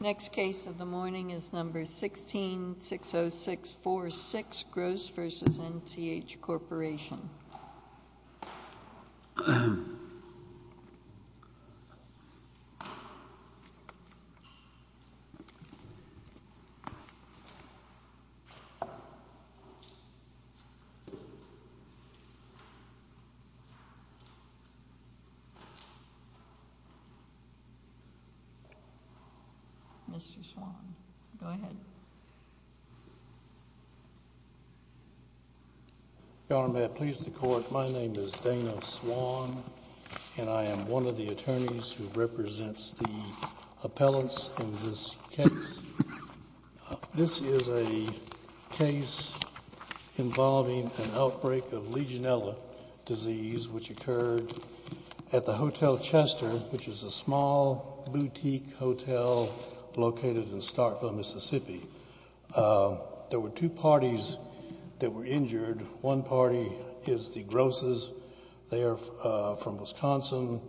1660646 Gross v. NCH Corporation Mr. Swann, go ahead. Your Honor, may it please the Court, my name is Dana Swann, and I am one of the attorneys who represents the appellants in this case. This is a case involving an outbreak of Legionella disease which occurred at the Hotel Chester, which is a small boutique hotel located in Starkville, Mississippi. There were two parties that were injured. One party is the Grosses. They are from Wisconsin.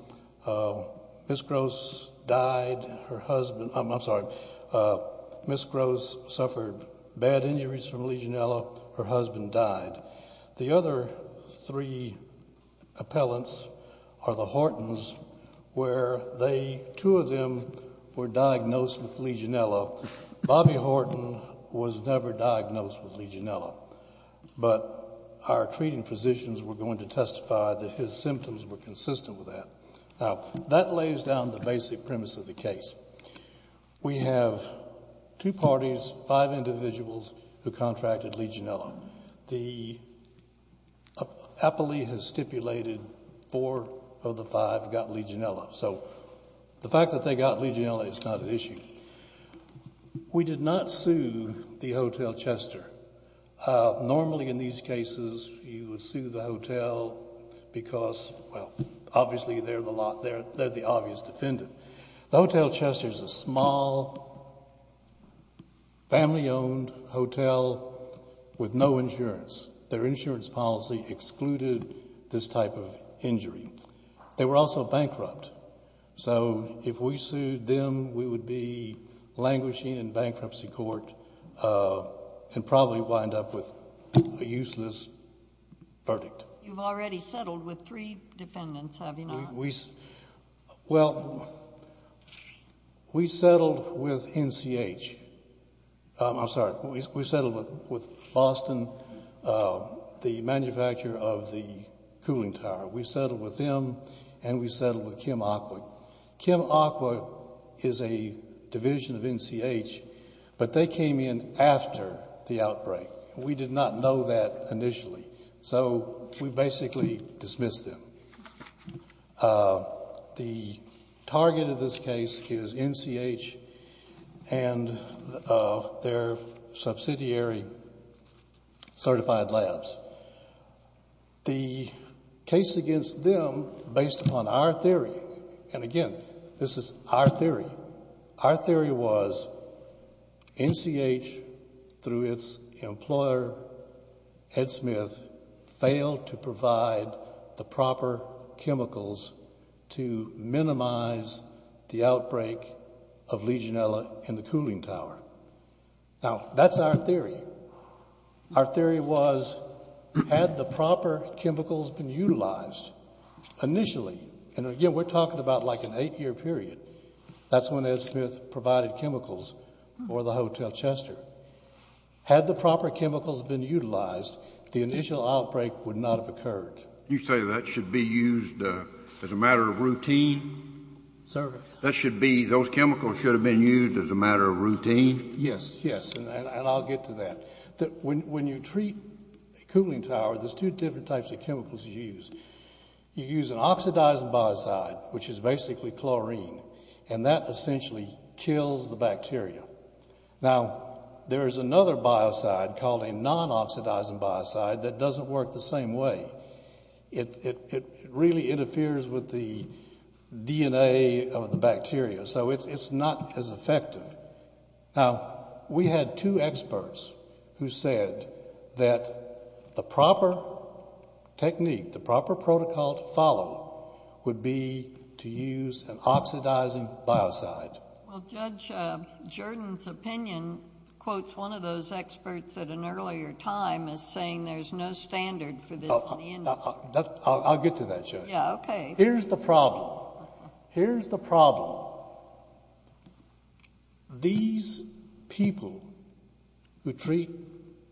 Ms. Gross died, her husband, I'm sorry, Ms. Gross suffered bad injuries from Legionella. Her husband died. The other three appellants are the Hortons, where two of them were diagnosed with Legionella. Bobby Horton was never diagnosed with Legionella, but our treating physicians were going to testify that his symptoms were consistent with that. That lays down the basic premise of the case. We have two parties, five individuals who contracted Legionella. The appellee has stipulated four of the five got Legionella. So the fact that they got Legionella is not an issue. We did not sue the Hotel Chester. Normally in these cases you would sue the hotel because, well, obviously they're the obvious defendant. The Hotel Chester is a small, family-owned hotel with no insurance. Their insurance policy excluded this type of injury. They were also bankrupt. So if we sued them, we would be languishing in bankruptcy court and probably wind up with a useless verdict. Well, we settled with NCH, I'm sorry, we settled with Boston, the manufacturer of the cooling tower. We settled with them and we settled with Kim Aqua. Kim Aqua is a division of NCH, but they came in after the outbreak. We did not know that initially. So we basically dismissed them. The target of this case is NCH and their subsidiary Certified Labs. The case against them, based upon our theory, and again, this is our theory, our theory was NCH, through its employer, Ed Smith, failed to provide the proper chemicals to minimize the outbreak of Legionella in the cooling tower. Now, that's our theory. Our theory was, had the proper chemicals been utilized initially, and again, we're talking about like an eight-year period. That's when Ed Smith provided chemicals for the Hotel Chester. Had the proper chemicals been utilized, the initial outbreak would not have occurred. You say that should be used as a matter of routine? Sir? That should be, those chemicals should have been used as a matter of routine? Yes, yes, and I'll get to that. When you treat a cooling tower, there's two different types of chemicals you use. You use an oxidizing biocide, which is basically chlorine, and that essentially kills the bacteria. Now, there is another biocide called a non-oxidizing biocide that doesn't work the same way. It really interferes with the DNA of the bacteria, so it's not as effective. Now, we had two experts who said that the proper technique, the proper protocol to follow would be to use an oxidizing biocide. Well, Judge, Jordan's opinion quotes one of those experts at an earlier time as saying there's no standard for this in the industry. I'll get to that, Judge. Here's the problem. Here's the problem. These people who treat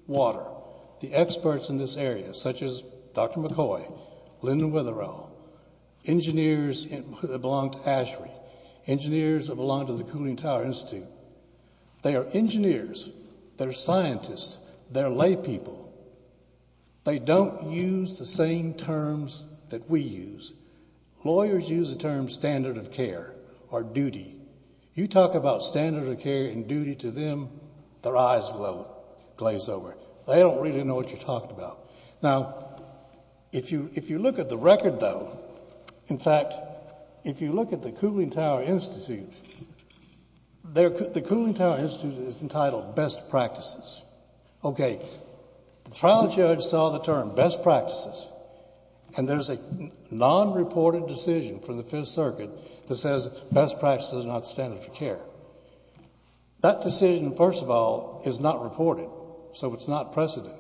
water, the experts in this area, such as Dr. McCoy, Lyndon Witherell, engineers that belong to ASHRAE, engineers that belong to the Cooling Tower Institute, they are engineers, they're scientists, they're laypeople. They don't use the same terms that we use. Lawyers use the term standard of care or duty. You talk about standard of care and duty to them, their eyes glaze over. They don't really know what you're talking about. Now, if you look at the record, though, in fact, if you look at the Cooling Tower Institute, the Cooling Tower Institute is entitled Best Practices. Okay, the trial judge saw the term Best Practices, and there's a non-reported decision from the Fifth Circuit that says Best Practices are not standard of care. That decision, first of all, is not reported, so it's not precedent.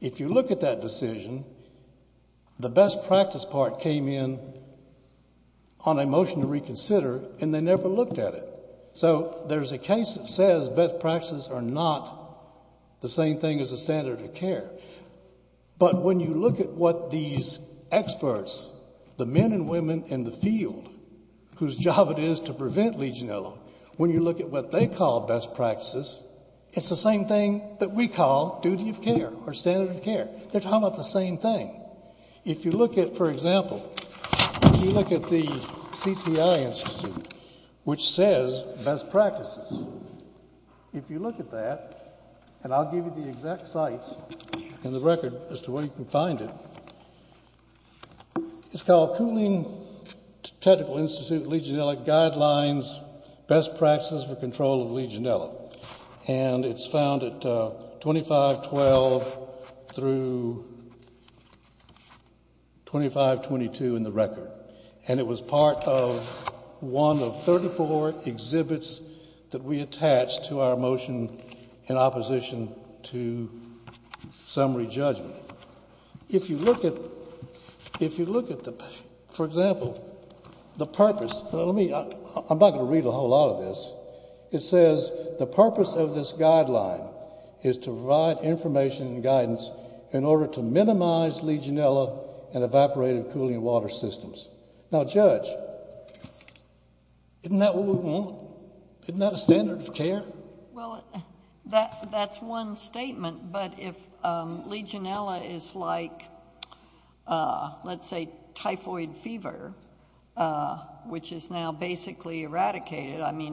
If you look at that decision, the Best Practice part came in on a motion to reconsider, and they never looked at it. So there's a case that says Best Practices are not the same thing as a standard of care. But when you look at what these experts, the men and women in the field, whose job it is to prevent Legionella, when you look at what they call Best Practices, it's the same thing that we call duty of care or standard of care. They're talking about the same thing. If you look at, for example, if you look at the CTI Institute, which says Best Practices, if you look at that, and I'll give you the exact sites in the record as to where you can find it, it's called Cooling Technical Institute Legionella Guidelines, Best Practices for Control of Legionella. And it's found at 2512 through 2522 in the record. And it was part of one of 34 exhibits that we attached to our motion in opposition to summary judgment. If you look at, for example, the purpose, I'm not going to read a whole lot of this. It says the purpose of this guideline is to provide information and guidance in order to minimize Legionella and evaporative cooling water systems. Now, Judge, isn't that what we want? Isn't that a standard of care? Well, that's one statement. But if Legionella is like, let's say, typhoid fever, which is now basically eradicated, I mean,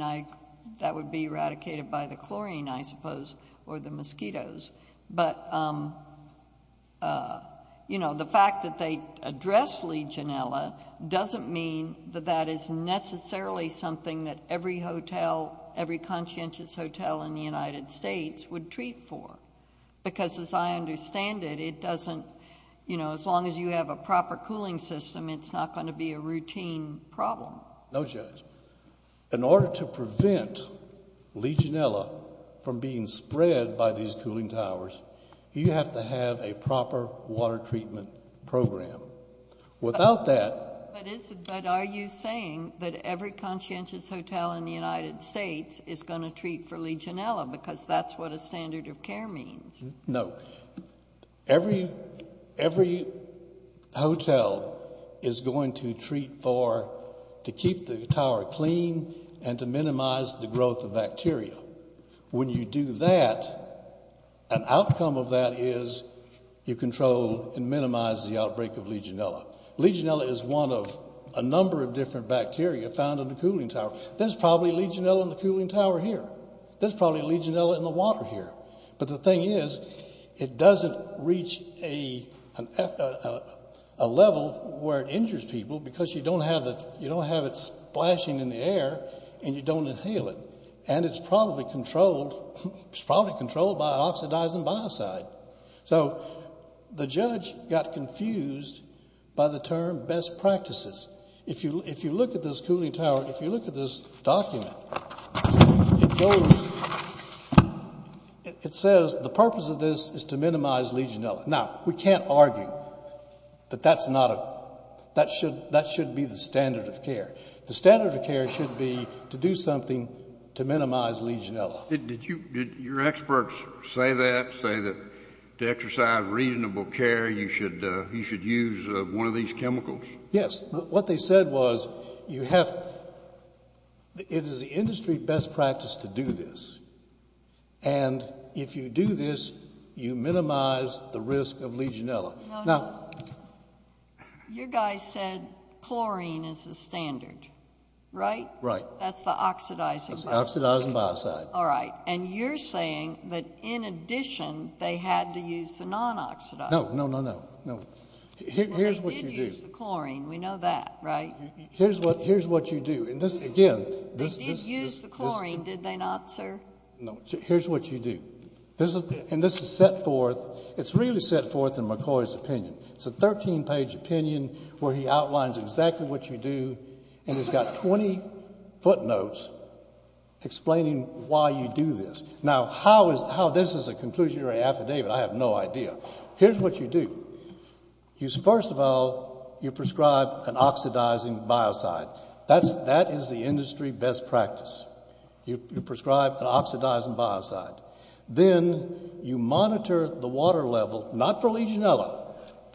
that would be eradicated by the chlorine, I suppose, or the mosquitoes. But, you know, the fact that they address Legionella doesn't mean that that is necessarily something that every hotel, every conscientious hotel in the United States would treat for. Because as I understand it, it doesn't, you know, as long as you have a proper cooling system, it's not going to be a routine problem. No, Judge. In order to prevent Legionella from being spread by these cooling towers, you have to have a proper water treatment program. Without that. But are you saying that every conscientious hotel in the United States is going to treat for Legionella because that's what a standard of care means? No. Every hotel is going to treat for, to keep the tower clean and to minimize the growth of bacteria. When you do that, an outcome of that is you control and minimize the outbreak of Legionella. Legionella is one of a number of different bacteria found in the cooling tower. There's probably Legionella in the cooling tower here. There's probably Legionella in the water here. But the thing is, it doesn't reach a level where it injures people because you don't have it splashing in the air and you don't inhale it. And it's probably controlled by an oxidizing biocide. So the judge got confused by the term best practices. If you look at this cooling tower, if you look at this document, it goes, it says the purpose of this is to minimize Legionella. Now, we can't argue that that's not a, that should be the standard of care. The standard of care should be to do something to minimize Legionella. Did your experts say that, say that to exercise reasonable care, you should use one of these chemicals? Yes. What they said was you have, it is the industry best practice to do this. And if you do this, you minimize the risk of Legionella. Now. You guys said chlorine is the standard, right? That's the oxidizing biocide. That's the oxidizing biocide. All right. And you're saying that in addition, they had to use the non-oxidizer. No, no, no, no. No. Here's what you do. They did use the chlorine. We know that, right? Here's what, here's what you do. And this, again. They did use the chlorine, did they not, sir? No. Here's what you do. This is, and this is set forth, it's really set forth in McCoy's opinion. It's a 13-page opinion where he outlines exactly what you do, and it's got 20 footnotes explaining why you do this. Now, how is, how this is a conclusionary affidavit, I have no idea. Here's what you do. You, first of all, you prescribe an oxidizing biocide. That's, that is the industry best practice. You prescribe an oxidizing biocide. Then you monitor the water level, not for Legionella.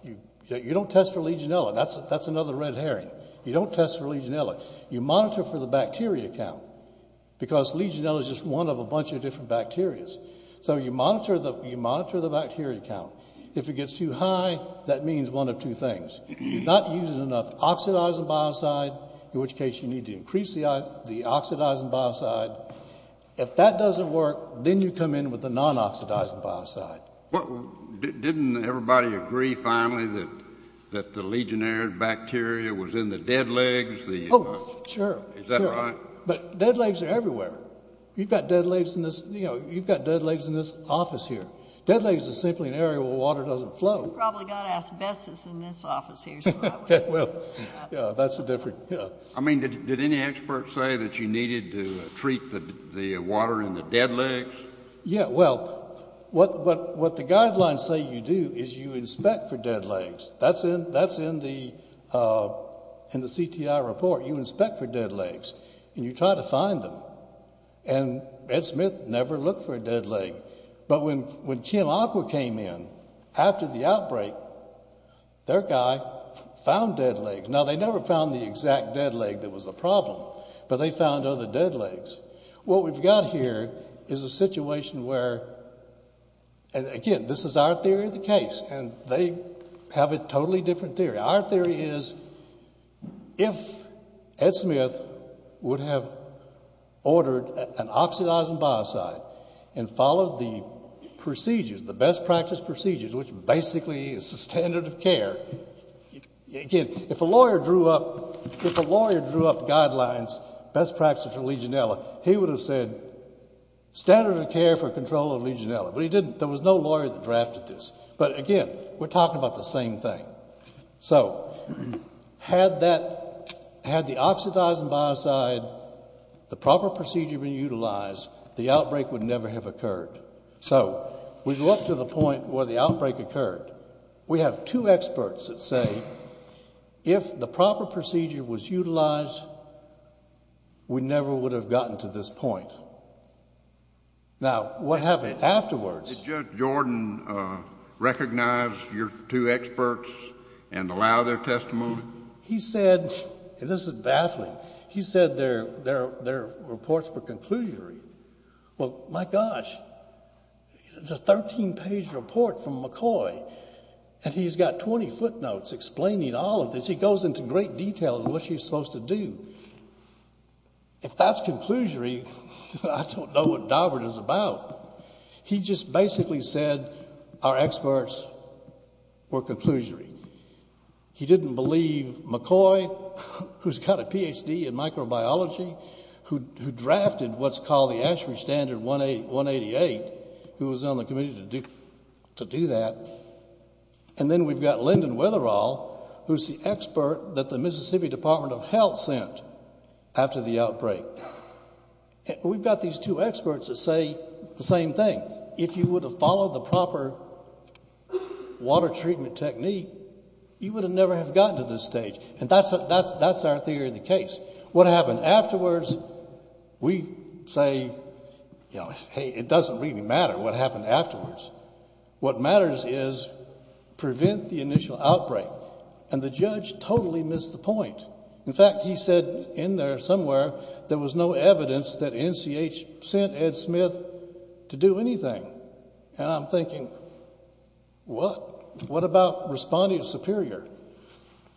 You, you don't test for Legionella. That's, that's another red herring. You don't test for Legionella. You monitor for the bacteria count. Because Legionella is just one of a bunch of different bacterias. So you monitor the, you monitor the bacteria count. If it gets too high, that means one of two things. You're not using enough oxidizing biocide, in which case you need to increase the oxidizing biocide. If that doesn't work, then you come in with the non-oxidizing biocide. Well, didn't everybody agree finally that, that the Legionella bacteria was in the dead legs? Oh, sure, sure. Is that right? But dead legs are everywhere. You've got dead legs in this, you know, you've got dead legs in this office here. Dead legs is simply an area where water doesn't flow. You've probably got asbestos in this office here. That's a different, yeah. I mean, did, did any experts say that you needed to treat the, the water in the dead legs? Yeah, well, what, what, what the guidelines say you do is you inspect for dead legs. That's in, that's in the, in the CTI report. You inspect for dead legs. And you try to find them. And Ed Smith never looked for a dead leg. But when, when Kim Aqua came in after the outbreak, their guy found dead legs. Now, they never found the exact dead leg that was the problem. But they found other dead legs. What we've got here is a situation where, again, this is our theory of the case. And they have a totally different theory. Our theory is if Ed Smith would have ordered an oxidizing biocide and followed the procedures, the best practice procedures, which basically is the standard of care. Again, if a lawyer drew up, if a lawyer drew up guidelines, best practices for Legionella, he would have said standard of care for control of Legionella. But he didn't. There was no lawyer that drafted this. But again, we're talking about the same thing. So, had that, had the oxidizing biocide, the proper procedure been utilized, the outbreak would never have occurred. So, we go up to the point where the outbreak occurred. We have two experts that say if the proper procedure was utilized, we never would have gotten to this point. Now, what happened afterwards. Did Judge Jordan recognize your two experts and allow their testimony? He said, and this is baffling. He said their reports were conclusory. Well, my gosh, it's a 13-page report from McCoy. And he's got 20 footnotes explaining all of this. He goes into great detail in what he's supposed to do. If that's conclusory, I don't know what Dobbert is about. He just basically said our experts were conclusory. He didn't believe McCoy, who's got a PhD in microbiology, who drafted what's called the ASHRAE Standard 188, who was on the committee to do that. And then we've got Lyndon Wetherall, who's the expert that the Mississippi Department of Health sent after the outbreak. We've got these two experts that say the same thing. If you would have followed the proper water treatment technique, you would have never have gotten to this stage. And that's our theory of the case. What happened afterwards, we say, you know, hey, it doesn't really matter what happened afterwards. What matters is prevent the initial outbreak. And the judge totally missed the point. In fact, he said in there somewhere there was no evidence that NCH sent Ed Smith to do anything. And I'm thinking, what? What about Respondent Superior?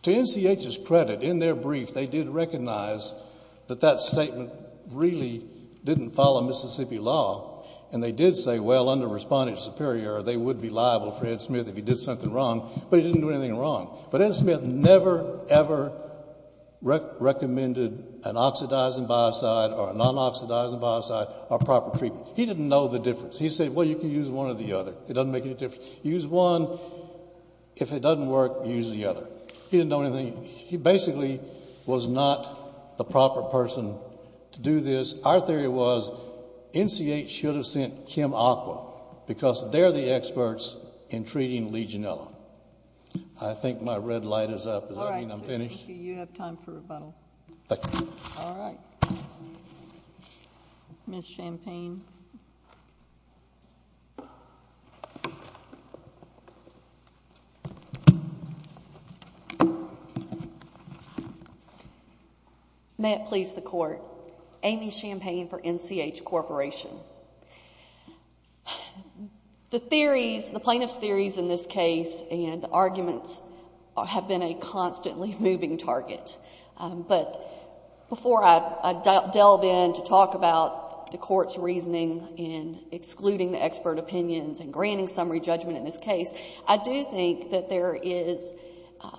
To NCH's credit, in their brief, they did recognize that that statement really didn't follow Mississippi law. And they did say, well, under Respondent Superior, they would be liable for Ed Smith if he did something wrong. But he didn't do anything wrong. But Ed Smith never, ever recommended an oxidizing biocide or a non-oxidizing biocide or proper treatment. He didn't know the difference. He said, well, you can use one or the other. It doesn't make any difference. Use one. If it doesn't work, use the other. He didn't know anything. He basically was not the proper person to do this. Our theory was NCH should have sent Kim Aqua because they're the experts in treating Legionella. I think my red light is up. Does that mean I'm finished? Thank you. You have time for rebuttal. Thank you. All right. Ms. Champagne. May it please the Court, Amy Champagne for NCH Corporation. The theories, the plaintiff's theories in this case and the arguments have been a constantly moving target. But before I delve in to talk about the Court's reasoning in excluding the expert opinions and granting summary judgment in this case, I do think that there is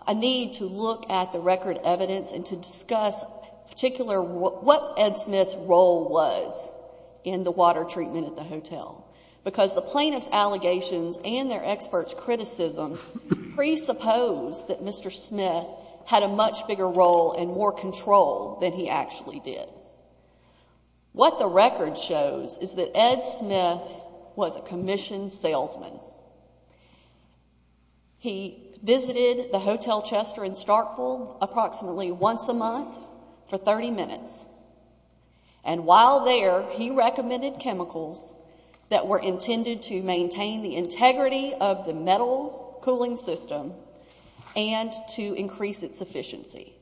a need to look at the record evidence and to discuss particular what Ed Smith's role was in the water treatment at the hotel. Because the plaintiff's allegations and their expert's criticism presuppose that Mr. Smith had a much bigger role and more control than he actually did. What the record shows is that Ed Smith was a commissioned salesman. He visited the Hotel Chester in Starkville approximately once a month for 30 minutes. And while there, he recommended chemicals that were intended to maintain the integrity of the metal cooling system and to increase its efficiency.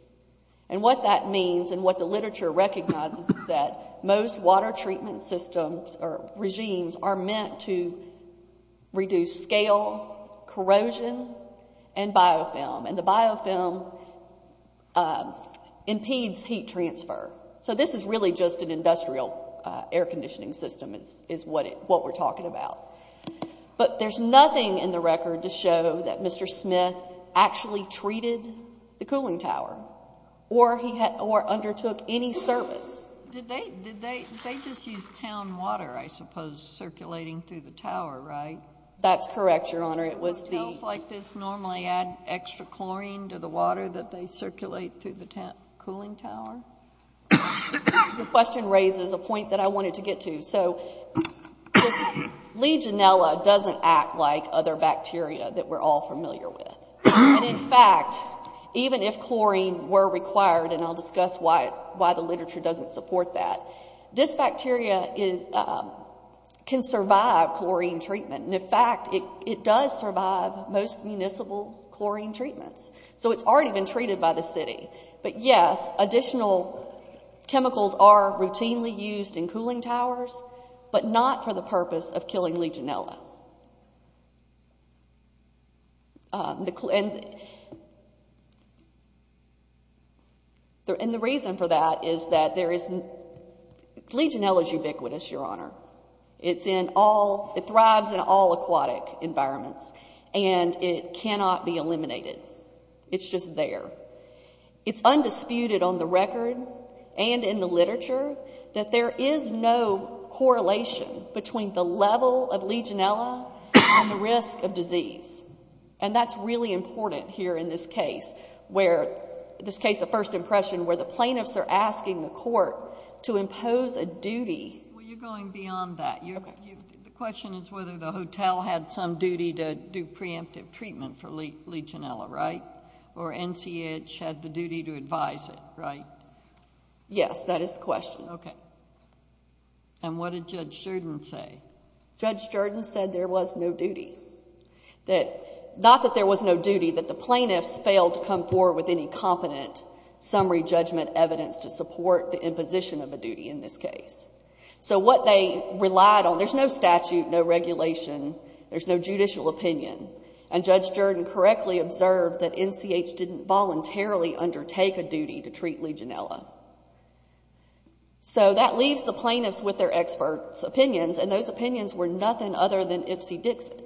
And what that means and what the literature recognizes is that most water treatment systems or regimes are meant to reduce scale, corrosion and biofilm. And the biofilm impedes heat transfer. So this is really just an industrial air conditioning system is what we're talking about. But there's nothing in the record to show that Mr. Smith actually treated the cooling tower or undertook any service. Did they just use town water, I suppose, circulating through the tower, right? That's correct, Your Honor. Do hotels like this normally add extra chlorine to the water that they circulate through the cooling tower? Your question raises a point that I wanted to get to. So Legionella doesn't act like other bacteria that we're all familiar with. And in fact, even if chlorine were required, and I'll discuss why the literature doesn't support that, this bacteria can survive chlorine treatment. And in fact, it does survive most municipal chlorine treatments. So it's already been treated by the city. But yes, additional chemicals are routinely used in cooling towers, but not for the purpose of killing Legionella. And the reason for that is that Legionella's ubiquitous, Your Honor. It's in all, it thrives in all aquatic environments. And it cannot be eliminated. It's just there. It's undisputed on the record and in the literature that there is no correlation between the level of Legionella and the risk of disease. And that's really important here in this case, where, this case of first impression, where the plaintiffs are asking the court to impose a duty. Well, you're going beyond that. The question is whether the hotel had some duty to do preemptive treatment for Legionella, right? Or NCH had the duty to advise it, right? Yes, that is the question. Okay. And what did Judge Jordan say? Judge Jordan said there was no duty. That, not that there was no duty, that the plaintiffs failed to come forward with any competent summary judgment evidence to support the imposition of a duty in this case. So what they relied on, there's no statute, no regulation. There's no judicial opinion. And Judge Jordan correctly observed that NCH didn't voluntarily undertake a duty to treat Legionella. So that leaves the plaintiffs with their experts opinions. And those opinions were nothing other than Ipsy Dixit.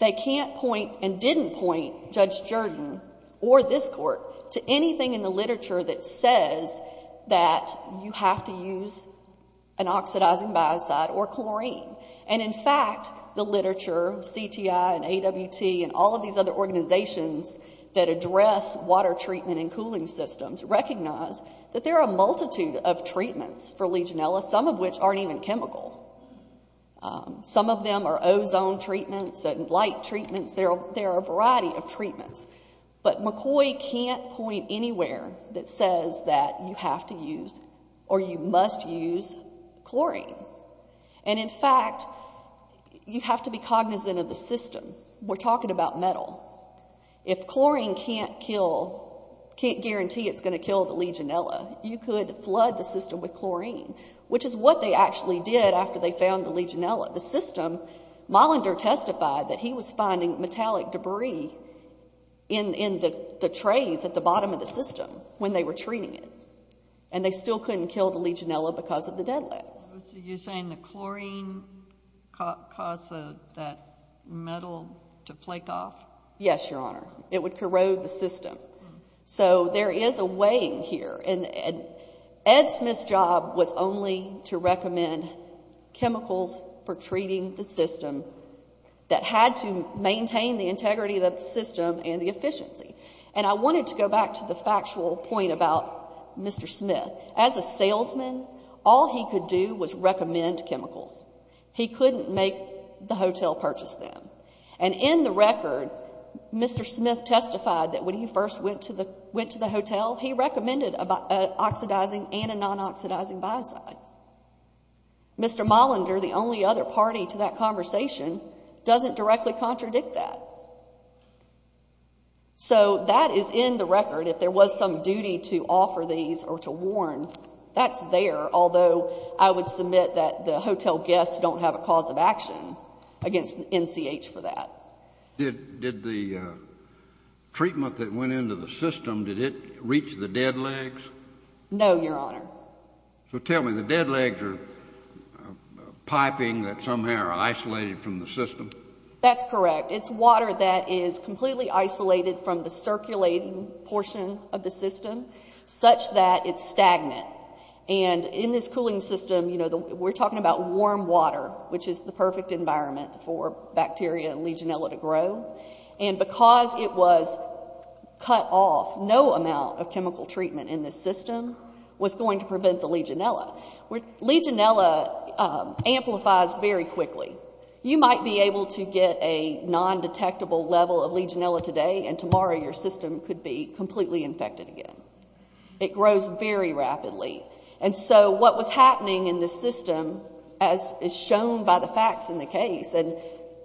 They can't point and didn't point Judge Jordan or this court to anything in the literature that says that you have to use an oxidizing biocide or chlorine. And in fact, the literature, CTI and AWT and all of these other organizations that address water treatment and cooling systems recognize that there are a multitude of treatments for Legionella, some of which aren't even chemical. Some of them are ozone treatments and light treatments. There are a variety of treatments. But McCoy can't point anywhere that says that you have to use or you must use chlorine. And in fact, you have to be cognizant of the system. We're talking about metal. If chlorine can't kill, can't guarantee it's gonna kill the Legionella, you could flood the system with chlorine, which is what they actually did after they found the Legionella. The system, Molander testified that he was finding metallic debris in the trays at the bottom of the system when they were treating it. And they still couldn't kill the Legionella because of the deadlift. You're saying the chlorine caused that metal to flake off? Yes, Your Honor. It would corrode the system. So there is a weighing here. And Ed Smith's job was only to recommend chemicals for treating the system that had to maintain the integrity of the system and the efficiency. And I wanted to go back to the factual point about Mr. Smith. As a salesman, all he could do was recommend chemicals. He couldn't make the hotel purchase them. And in the record, Mr. Smith testified that when he first went to the hotel, he recommended an oxidizing and a non-oxidizing biocide. Mr. Molander, the only other party to that conversation, doesn't directly contradict that. So that is in the record. If there was some duty to offer these or to warn, that's there, although I would submit that the hotel guests don't have a cause of action against NCH for that. Did the treatment that went into the system, did it reach the dead legs? No, Your Honor. So tell me, the dead legs are piping that somehow are isolated from the system? That's correct. It's water that is completely isolated from the circulating portion of the system such that it's stagnant. And in this cooling system, we're talking about warm water, which is the perfect environment for bacteria and Legionella to grow. And because it was cut off, no amount of chemical treatment in this system was going to prevent the Legionella. Legionella amplifies very quickly. You might be able to get a non-detectable level of Legionella today, and tomorrow your system could be completely infected again. It grows very rapidly. And so what was happening in this system, as is shown by the facts in the case, and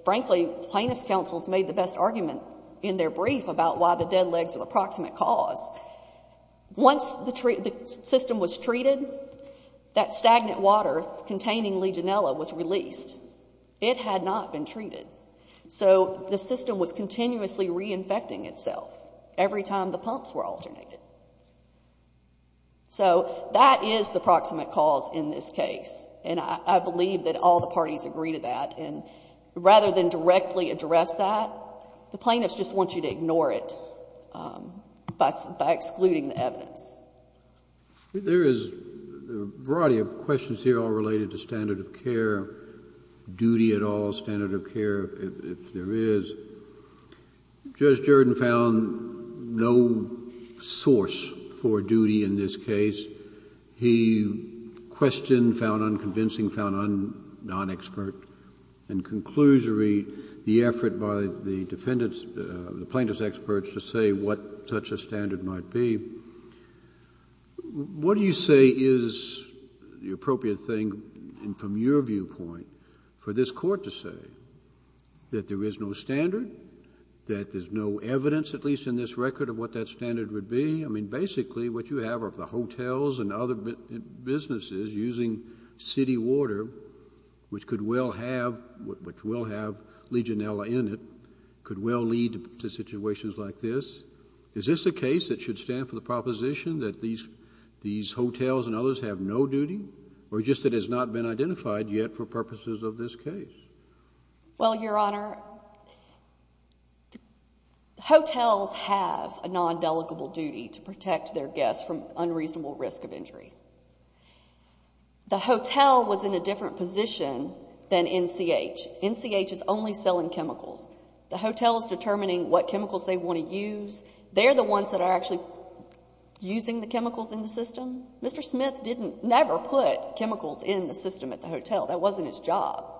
frankly, plaintiff's counsels made the best argument in their brief about why the dead legs are the proximate cause. Once the system was treated, that stagnant water containing Legionella was released. It had not been treated. So the system was continuously reinfecting itself every time the pumps were alternated. So that is the proximate cause in this case. And I believe that all the parties agree to that. And rather than directly address that, the plaintiffs just want you to ignore it by excluding the evidence. There is a variety of questions here all related to standard of care, duty at all, standard of care, if there is. Judge Jordan found no source for duty in this case. He questioned, found unconvincing, found non-expert. In conclusory, the effort by the defendants, the plaintiff's experts to say what such a standard might be. What do you say is the appropriate thing from your viewpoint for this court to say? That there is no standard? That there's no evidence, at least in this record, of what that standard would be? I mean, basically, what you have are the hotels and other businesses using city water, which could well have, which will have Legionella in it, could well lead to situations like this. Is this a case that should stand for the proposition that these hotels and others have no duty, or just that it has not been identified yet for purposes of this case? Well, Your Honor, hotels have a non-delegable duty to protect their guests from unreasonable risk of injury. The hotel was in a different position than NCH. NCH is only selling chemicals. The hotel is determining what chemicals they want to use. They're the ones that are actually using the chemicals in the system. Mr. Smith didn't, never put chemicals in the system at the hotel. That wasn't his job.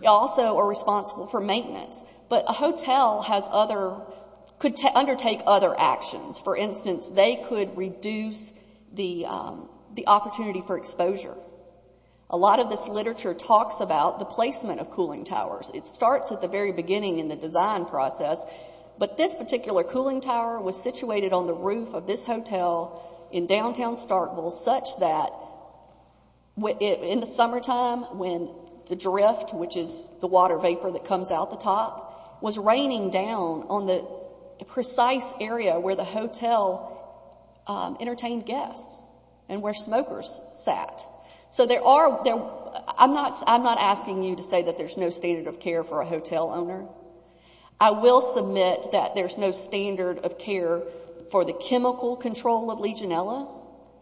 They also are responsible for maintenance. But a hotel has other, could undertake other actions. For instance, they could reduce the opportunity for exposure. A lot of this literature talks about the placement of cooling towers. It starts at the very beginning in the design process, but this particular cooling tower was situated on the roof of this hotel in downtown Starkville, such that in the summertime when the drift, which is the water vapor that comes out the top, was raining down on the precise area where the hotel entertained guests, and where smokers sat. So there are, I'm not asking you to say that there's no standard of care for a hotel owner. I will submit that there's no standard of care for the chemical control of Legionella.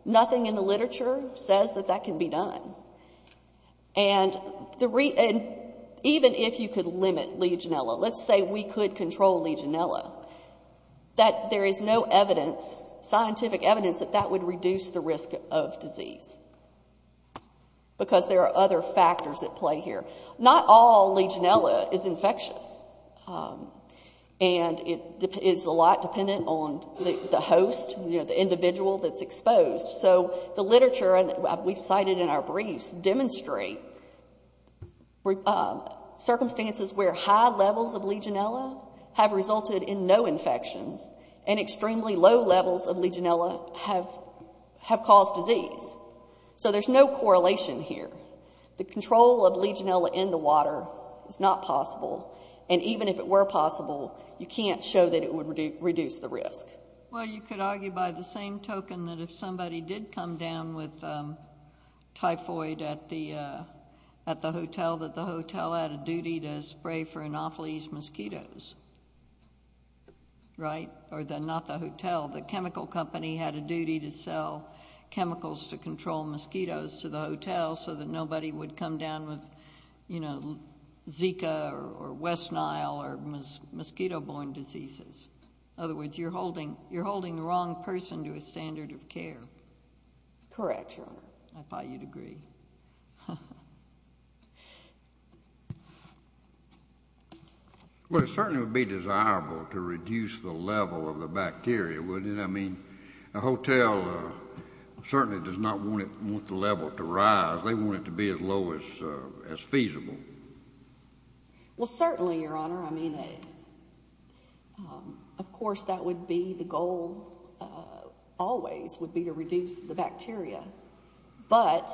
Nothing in the literature says that that can be done. And even if you could limit Legionella, let's say we could control Legionella, that there is no evidence, scientific evidence, that that would reduce the risk of disease. Because there are other factors at play here. Not all Legionella is infectious. And it is a lot dependent on the host, the individual that's exposed. So the literature, and we've cited in our briefs, demonstrate circumstances where high levels of Legionella have resulted in no infections, and extremely low levels of Legionella have caused disease. So there's no correlation here. The control of Legionella in the water is not possible. And even if it were possible, you can't show that it would reduce the risk. Well, you could argue by the same token that if somebody did come down with typhoid at the hotel, that the hotel had a duty to spray for Anopheles mosquitoes. Right? Or not the hotel, the chemical company had a duty to sell chemicals to control mosquitoes to the hotel so that nobody would come down with Zika or West Nile or mosquito-borne diseases. Other words, you're holding the wrong person to a standard of care. Correct, Your Honor. I thought you'd agree. Well, it certainly would be desirable to reduce the level of the bacteria, wouldn't it? I mean, a hotel certainly does not want the level to rise. They want it to be as low as feasible. Well, certainly, Your Honor. I mean, of course, that would be the goal always would be to reduce the bacteria. But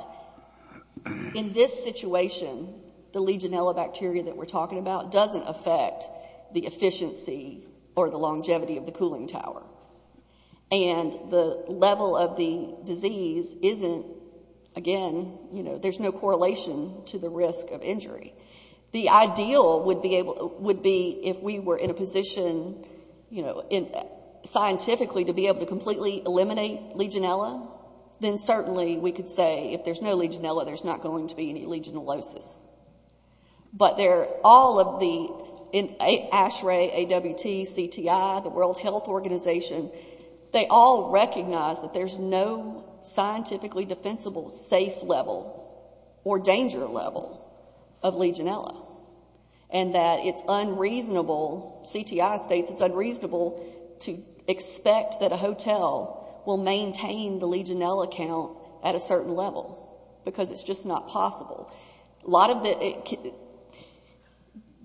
in this situation, the Legionella bacteria that we're talking about doesn't affect the efficiency or the longevity of the cooling tower. And the level of the disease isn't, again, there's no correlation to the risk of injury. The ideal would be if we were in a position scientifically to be able to completely eliminate Legionella, then certainly we could say if there's no Legionella, there's not going to be any Legionellosis. But all of the ASHRAE, AWT, CTI, the World Health Organization, they all recognize that there's no scientifically defensible safe level or danger level of Legionella. And that it's unreasonable, CTI states it's unreasonable to expect that a hotel will maintain the Legionella count at a certain level because it's just not possible. A lot of the,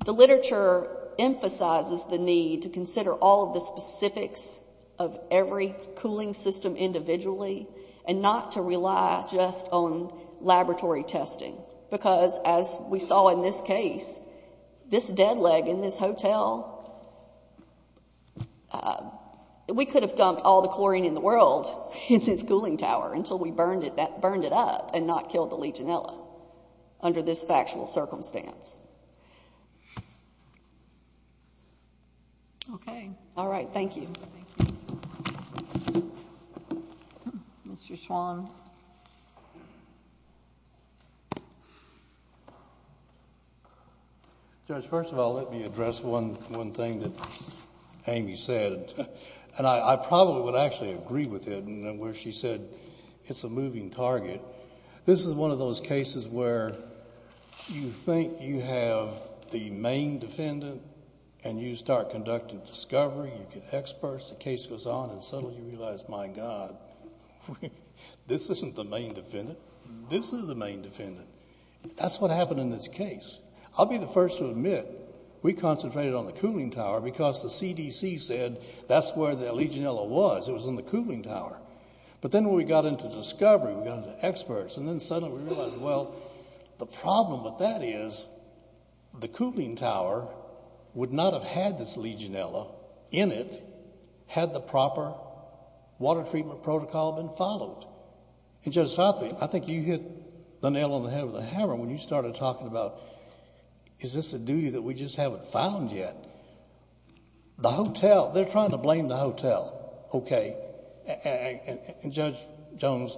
the literature emphasizes the need to consider all of the specifics of every cooling system individually and not to rely just on laboratory testing. Because as we saw in this case, this dead leg in this hotel, we could have dumped all the chlorine in the world in this cooling tower until we burned it up and not killed the Legionella under this factual circumstance. Okay. All right, thank you. Mr. Swan. Judge, first of all, let me address one thing that Amy said, and I probably would actually agree with it in where she said it's a moving target. This is one of those cases where you think you have the main defendant and you start conducting discovery, you get experts, the case goes on and suddenly you realize, my God, this isn't the main defendant, this is the main defendant. That's what happened in this case. I'll be the first to admit, we concentrated on the cooling tower because the CDC said that's where the Legionella was, it was on the cooling tower. But then when we got into discovery, we got into experts and then suddenly we realized, well, the problem with that is the cooling tower would not have had this Legionella in it had the proper water treatment protocol been followed. And Judge Southley, I think you hit the nail on the head with a hammer when you started talking about, is this a duty that we just haven't found yet? The hotel, they're trying to blame the hotel. Okay, and Judge Jones,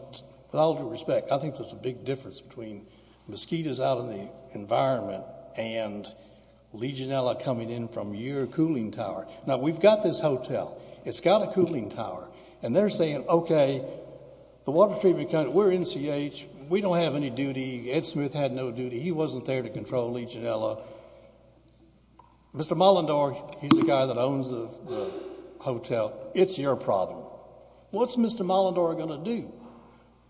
with all due respect, I think there's a big difference between mosquitoes out in the environment and Legionella coming in from your cooling tower. Now we've got this hotel, it's got a cooling tower and they're saying, okay, the water treatment, we're NCH, we don't have any duty, Ed Smith had no duty, he wasn't there to control Legionella. Mr. Molendor, he's the guy that owns the hotel, it's your problem. What's Mr. Molendor gonna do?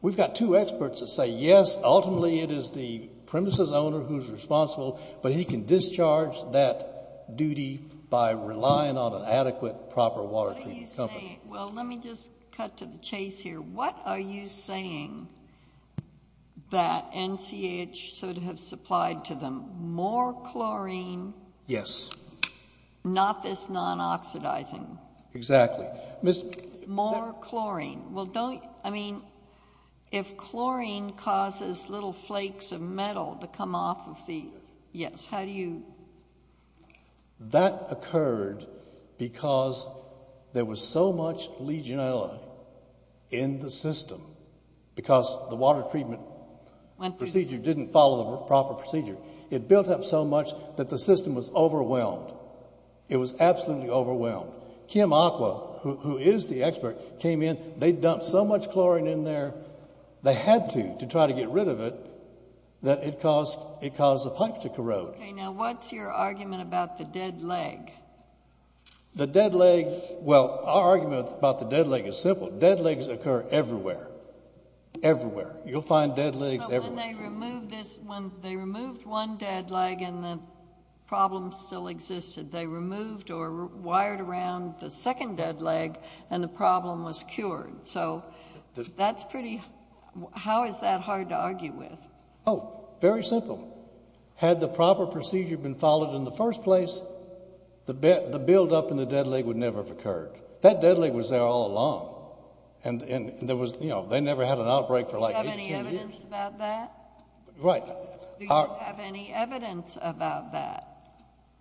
We've got two experts that say, yes, ultimately it is the premises owner who's responsible, but he can discharge that duty by relying on an adequate, proper water treatment company. Well, let me just cut to the chase here. What are you saying that NCH should have supplied to them? More chlorine. Yes. Not this non-oxidizing. Exactly. More chlorine. I mean, if chlorine causes little flakes of metal to come off of the, yes, how do you? That occurred because there was so much Legionella in the system because the water treatment procedure didn't follow the proper procedure. It built up so much that the system was overwhelmed. It was absolutely overwhelmed. Kim Aqua, who is the expert, came in, they dumped so much chlorine in there, they had to, to try to get rid of it, that it caused the pipe to corrode. Okay, now what's your argument about the dead leg? The dead leg, well, our argument about the dead leg is simple, dead legs occur everywhere. Everywhere. You'll find dead legs everywhere. But when they removed this, when they removed one dead leg and the problem still existed, they removed or wired around the second dead leg and the problem was cured. So that's pretty, how is that hard to argue with? Oh, very simple. Had the proper procedure been followed in the first place, the buildup in the dead leg would never have occurred. That dead leg was there all along. And there was, you know, they never had an outbreak for like 18 years. Do you have any evidence about that? Right. Do you have any evidence about that?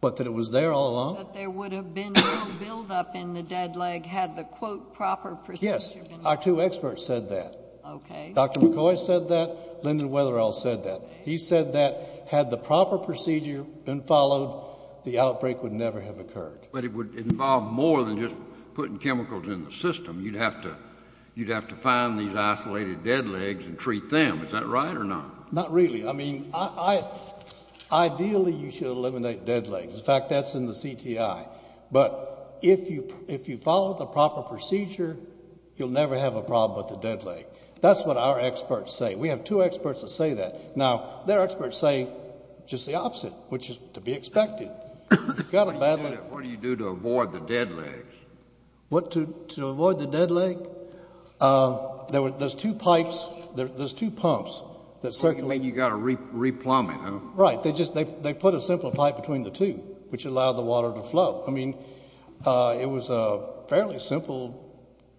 What, that it was there all along? That there would have been no buildup in the dead leg had the quote proper procedure been followed? Yes, our two experts said that. Okay. Dr. McCoy said that, Lyndon Wetherill said that. He said that had the proper procedure been followed, the outbreak would never have occurred. But it would involve more than just putting chemicals in the system. You'd have to find these isolated dead legs and treat them. Is that right or not? Not really. I mean, ideally you should eliminate dead legs. In fact, that's in the CTI. But if you follow the proper procedure, you'll never have a problem with the dead leg. That's what our experts say. We have two experts that say that. Now, their experts say just the opposite, which is to be expected. You've got a bad leg. What do you do to avoid the dead legs? What, to avoid the dead leg? There's two pipes, there's two pumps that circle. You mean you gotta re-plumb it, huh? Right. They put a simple pipe between the two, which allowed the water to flow. I mean, it was a fairly simple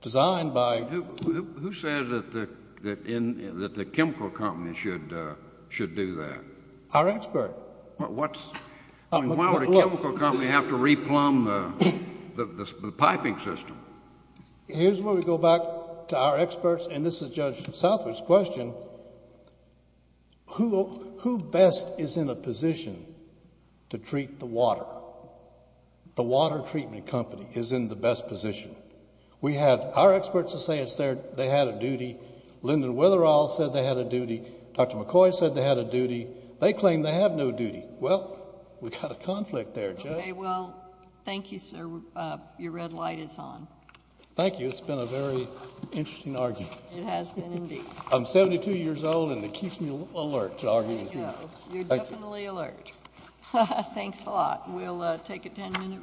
design by- Who said that the chemical company should do that? Our expert. But what's, I mean, why would a chemical company have to re-plumb the piping system? Here's where we go back to our experts, and this is Judge Southwood's question. So, who best is in a position to treat the water? The water treatment company is in the best position. We have our experts that say they had a duty. Lyndon Witherall said they had a duty. Dr. McCoy said they had a duty. They claim they have no duty. Well, we've got a conflict there, Judge. Okay, well, thank you, sir. Your red light is on. Thank you, it's been a very interesting argument. It has been, indeed. I'm 72 years old, and it keeps me alert to arguments. You're definitely alert. Thanks a lot. We'll take a 10-minute recess.